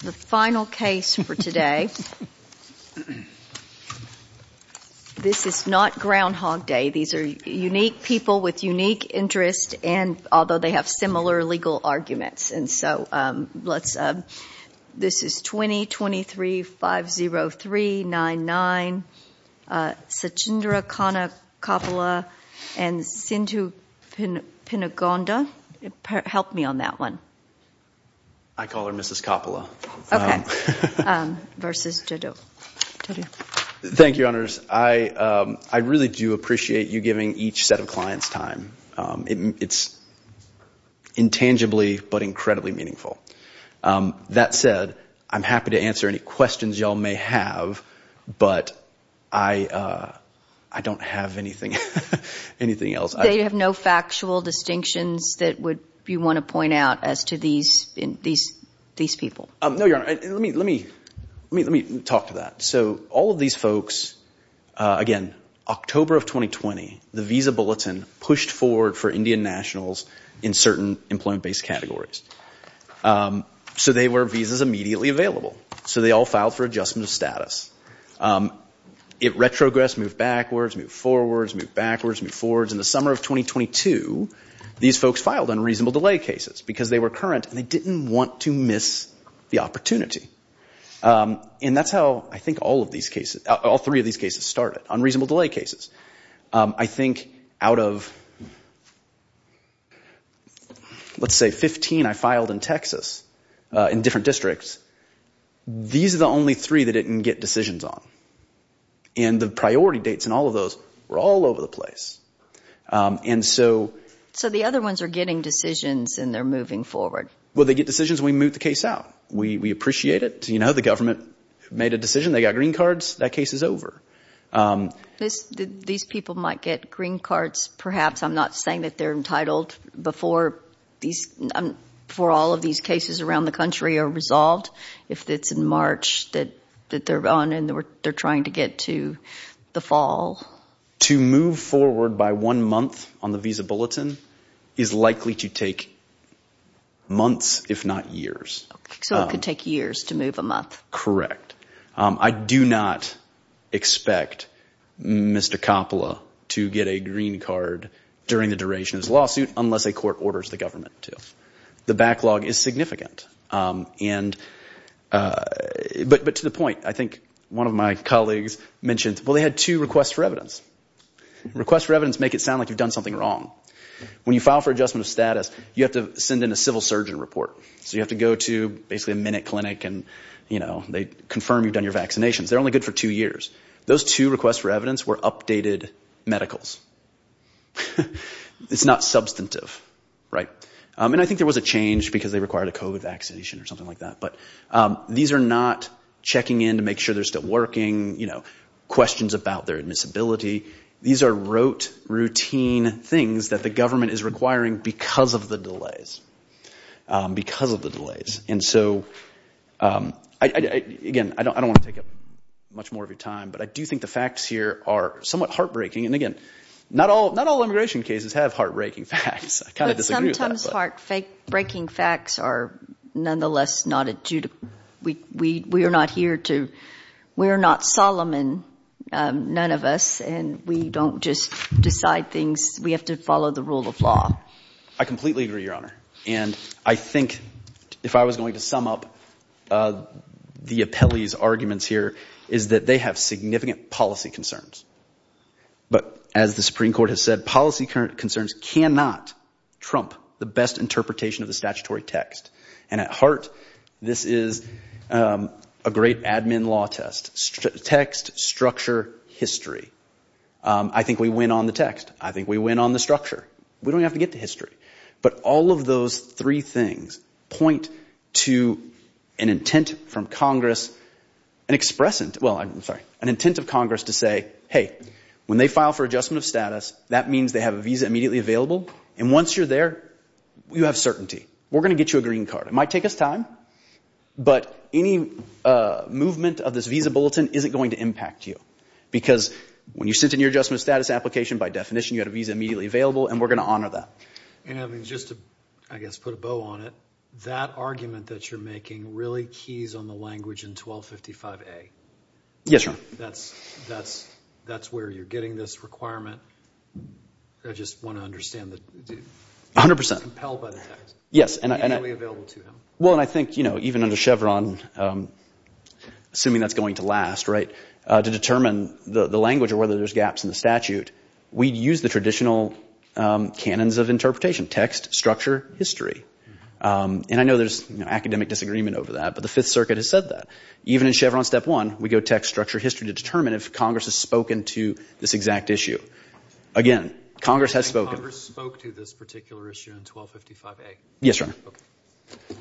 The final case for today, this is not Groundhog Day. These are unique people with unique interests and although they have similar legal arguments. And so let's, this is 20-23-503-99, Sachindra Khanna-Koppula and Sindhu Pinagonda, help me on that one. I call her Mrs. Koppula. Okay. Versus Jaddou. Thank you, Honors. I really do appreciate you giving each set of clients time. It's intangibly but incredibly meaningful. That said, I'm happy to answer any questions you all may have, but I don't have anything else. They have no factual distinctions that you want to point out as to these people? No, Your Honor. Let me talk to that. So all of these folks, again, October of 2020, the Visa Bulletin pushed forward for Indian nationals in certain employment-based categories. So they were visas immediately available. So they all filed for adjustment of status. It retrogressed, moved backwards, moved forwards, moved backwards, moved forwards. In the summer of 2022, these folks filed unreasonable delay cases because they were current and they didn't want to miss the opportunity. And that's how I think all of these cases, all three of these cases started, unreasonable delay cases. I think out of, let's say, 15 I filed in Texas in different districts, these are the only three that it didn't get decisions on. And the priority dates in all of those were all over the place. So the other ones are getting decisions and they're moving forward. Well, they get decisions when we move the case out. We appreciate it. The government made a decision. They got green cards. That case is over. These people might get green cards perhaps. I'm not saying that they're entitled before all of these cases around the country are resolved. If it's in March that they're on and they're trying to get to the fall. To move forward by one month on the visa bulletin is likely to take months if not years. So it could take years to move them up. Correct. I do not expect Mr. Coppola to get a green card during the duration of his lawsuit unless a court orders the government to. The backlog is significant. But to the point, I think one of my colleagues mentioned, well, they had two requests for evidence. Requests for evidence make it sound like you've done something wrong. When you file for adjustment of status, you have to send in a civil surgeon report. So you have to go to basically a minute clinic and they confirm you've done your vaccinations. They're only good for two years. Those two requests for evidence were updated medicals. It's not substantive. And I think there was a change because they required a COVID vaccination or something like that. But these are not checking in to make sure they're still working. Questions about their admissibility. These are rote, routine things that the government is requiring because of the delays. Because of the delays. And so, again, I don't want to take up much more of your time. But I do think the facts here are somewhat heartbreaking. And, again, not all immigration cases have heartbreaking facts. I kind of disagree with that. But sometimes heartbreaking facts are nonetheless not adjudicated. We are not here to – we are not Solomon, none of us. And we don't just decide things. We have to follow the rule of law. I completely agree, Your Honor. And I think if I was going to sum up the appellee's arguments here is that they have significant policy concerns. But as the Supreme Court has said, policy concerns cannot trump the best interpretation of the statutory text. And at heart, this is a great admin law test. Text, structure, history. I think we win on the text. I think we win on the structure. We don't even have to get to history. But all of those three things point to an intent from Congress, an expressent – well, I'm sorry, an intent of Congress to say, hey, when they file for adjustment of status, that means they have a visa immediately available. And once you're there, you have certainty. We're going to get you a green card. It might take us time. But any movement of this visa bulletin isn't going to impact you. Because when you sent in your adjustment of status application, by definition, you had a visa immediately available, and we're going to honor that. And just to, I guess, put a bow on it, that argument that you're making really keys on the language in 1255A. Yes, Your Honor. That's where you're getting this requirement. I just want to understand the – 100 percent. It's compelled by the text. Yes, and I – Immediately available to him. Well, and I think, you know, even under Chevron, assuming that's going to last, right, to determine the language or whether there's gaps in the statute, we'd use the traditional canons of interpretation – text, structure, history. And I know there's academic disagreement over that, but the Fifth Circuit has said that. Even in Chevron Step 1, we go text, structure, history to determine if Congress has spoken to this exact issue. Again, Congress has spoken. Congress spoke to this particular issue in 1255A. Yes, Your Honor.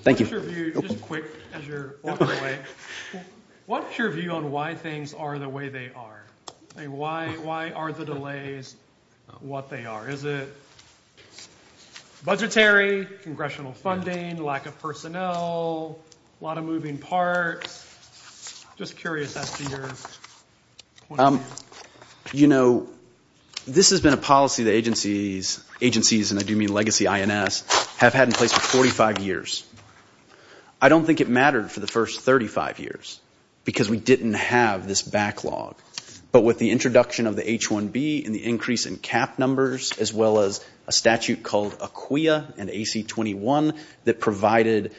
Thank you. Just a quick, as you're walking away, what's your view on why things are the way they are? Why are the delays what they are? Is it budgetary, congressional funding, lack of personnel, a lot of moving parts? Just curious as to your point of view. You know, this has been a policy the agencies – agencies, and I do mean legacy INS – have had in place for 45 years. I don't think it mattered for the first 35 years because we didn't have this backlog. But with the introduction of the H-1B and the increase in cap numbers, as well as a statute called AQUIA and AC-21 that provided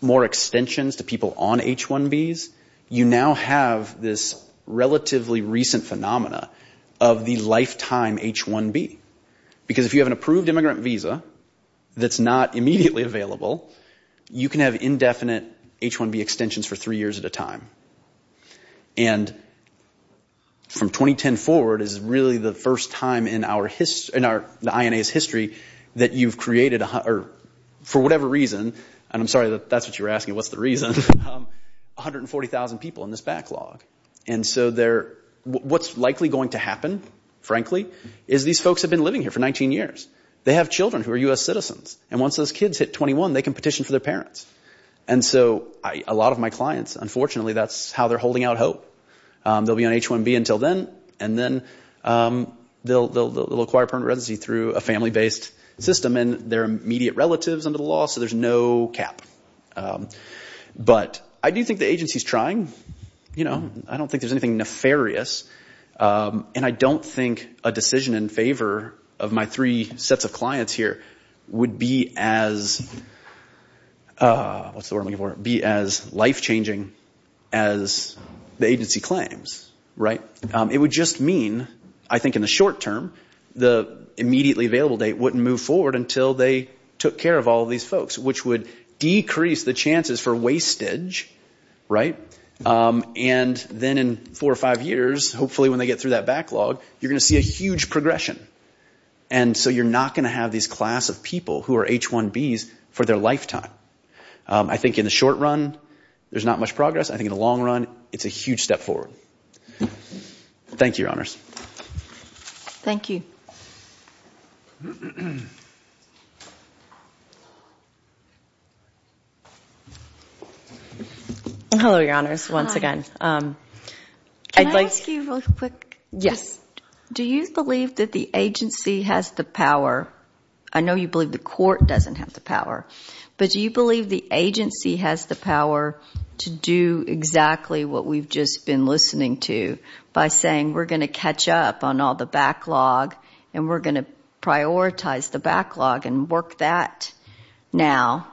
more extensions to people on H-1Bs, you now have this relatively recent phenomena of the lifetime H-1B. Because if you have an approved immigrant visa that's not immediately available, you can have indefinite H-1B extensions for three years at a time. And from 2010 forward is really the first time in our – in the INA's history that you've created – or for whatever reason, and I'm sorry that that's what you were asking, what's the reason – 140,000 people in this backlog. And so they're – what's likely going to happen, frankly, is these folks have been living here for 19 years. They have children who are U.S. citizens. And once those kids hit 21, they can petition for their parents. And so a lot of my clients, unfortunately, that's how they're holding out hope. They'll be on H-1B until then, and then they'll acquire permanent residency through a family-based system. And they're immediate relatives under the law, so there's no cap. But I do think the agency's trying. I don't think there's anything nefarious. And I don't think a decision in favor of my three sets of clients here would be as – what's the word I'm looking for – be as life-changing as the agency claims. It would just mean, I think in the short term, the immediately available date wouldn't move forward until they took care of all of these folks, which would decrease the chances for wastage. And then in four or five years, hopefully when they get through that backlog, you're going to see a huge progression. And so you're not going to have these class of people who are H-1Bs for their lifetime. I think in the short run, there's not much progress. I think in the long run, it's a huge step forward. Thank you, Your Honors. Thank you. Hello, Your Honors, once again. Can I ask you real quick? Yes. Do you believe that the agency has the power – I know you believe the court doesn't have the power – but do you believe the agency has the power to do exactly what we've just been listening to by saying we're going to catch up on all the backlog and we're going to prioritize the backlog and work that now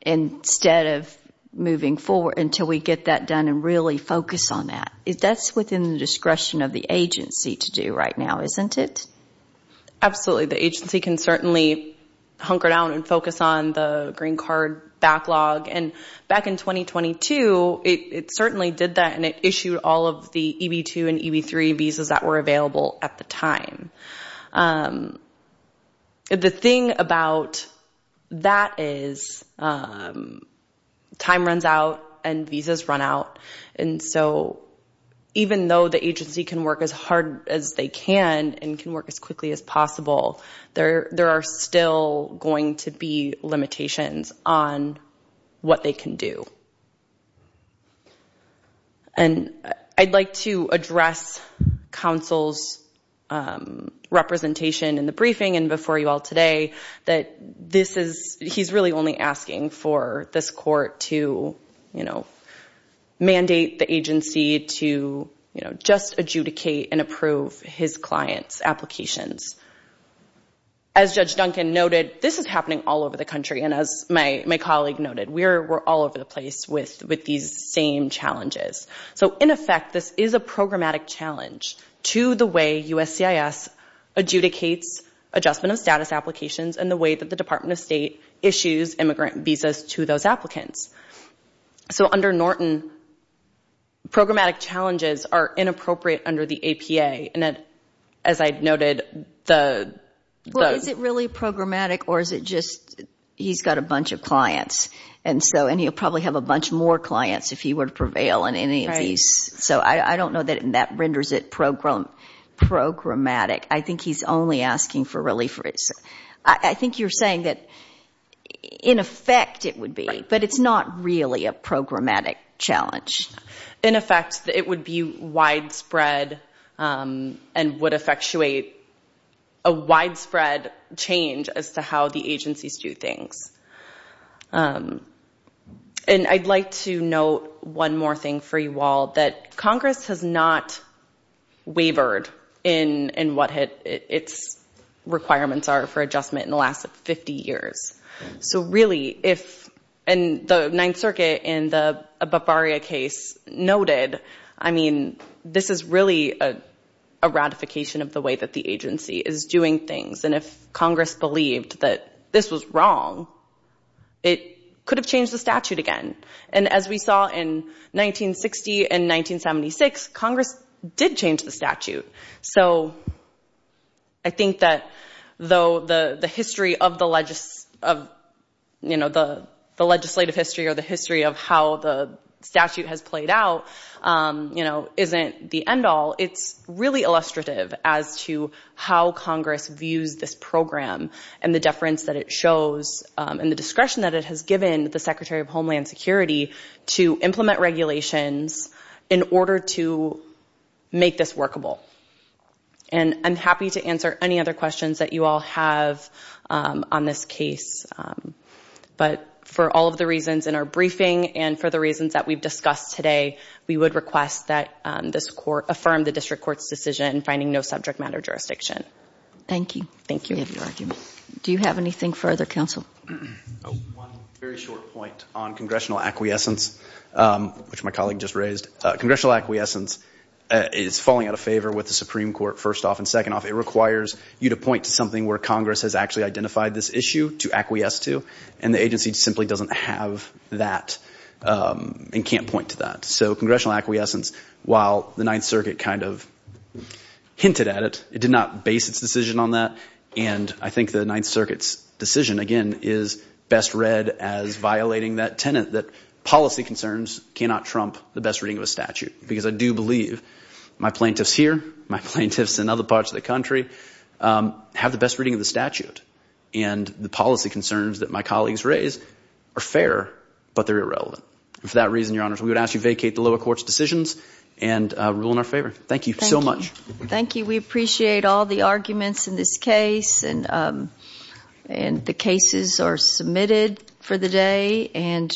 instead of moving forward until we get that done and really focus on that? That's within the discretion of the agency to do right now, isn't it? Absolutely. The agency can certainly hunker down and focus on the green card backlog. And back in 2022, it certainly did that and it issued all of the EB-2 and EB-3 visas that were available at the time. The thing about that is time runs out and visas run out. And so even though the agency can work as hard as they can and can work as quickly as possible, there are still going to be limitations on what they can do. And I'd like to address counsel's representation in the briefing and before you all today that this is – he's really only asking for this court to mandate the agency to just adjudicate and approve his client's applications. As Judge Duncan noted, this is happening all over the country. And as my colleague noted, we're all over the place with these same challenges. So in effect, this is a programmatic challenge to the way USCIS adjudicates adjustment of status applications and the way that the Department of State issues immigrant visas to those applicants. So under Norton, programmatic challenges are inappropriate under the APA. And as I noted, the – Well, is it really programmatic or is it just he's got a bunch of clients and so – and he'll probably have a bunch more clients if he were to prevail in any of these. So I don't know that that renders it programmatic. I think he's only asking for relief. I think you're saying that in effect it would be, but it's not really a programmatic challenge. In effect, it would be widespread and would effectuate a widespread change as to how the agencies do things. And I'd like to note one more thing for you all, that Congress has not wavered in what its requirements are for adjustment in the last 50 years. So really, if – and the Ninth Circuit in the Bavaria case noted, I mean, this is really a ratification of the way that the agency is doing things. And if Congress believed that this was wrong, it could have changed the statute again. And as we saw in 1960 and 1976, Congress did change the statute. So I think that though the history of the legislative history or the history of how the statute has played out isn't the end all, it's really illustrative as to how Congress views this program and the deference that it shows and the discretion that it has given the Secretary of Homeland Security to implement regulations in order to make this workable. And I'm happy to answer any other questions that you all have on this case. But for all of the reasons in our briefing and for the reasons that we've discussed today, we would request that this Court affirm the District Court's decision finding no subject matter jurisdiction. Thank you. Thank you. I appreciate your argument. Do you have anything further, Counsel? One very short point on congressional acquiescence, which my colleague just raised. Congressional acquiescence is falling out of favor with the Supreme Court, first off. And second off, it requires you to point to something where Congress has actually identified this issue to acquiesce to. And the agency simply doesn't have that and can't point to that. So congressional acquiescence, while the Ninth Circuit kind of hinted at it, it did not base its decision on that. And I think the Ninth Circuit's decision, again, is best read as violating that tenet that policy concerns cannot trump the best reading of a statute. Because I do believe my plaintiffs here, my plaintiffs in other parts of the country have the best reading of the statute. And the policy concerns that my colleagues raise are fair, but they're irrelevant. And for that reason, Your Honors, we would ask you to vacate the lower court's decisions and rule in our favor. Thank you so much. Thank you. Thank you. We appreciate all the arguments in this case, and the cases are submitted for the day.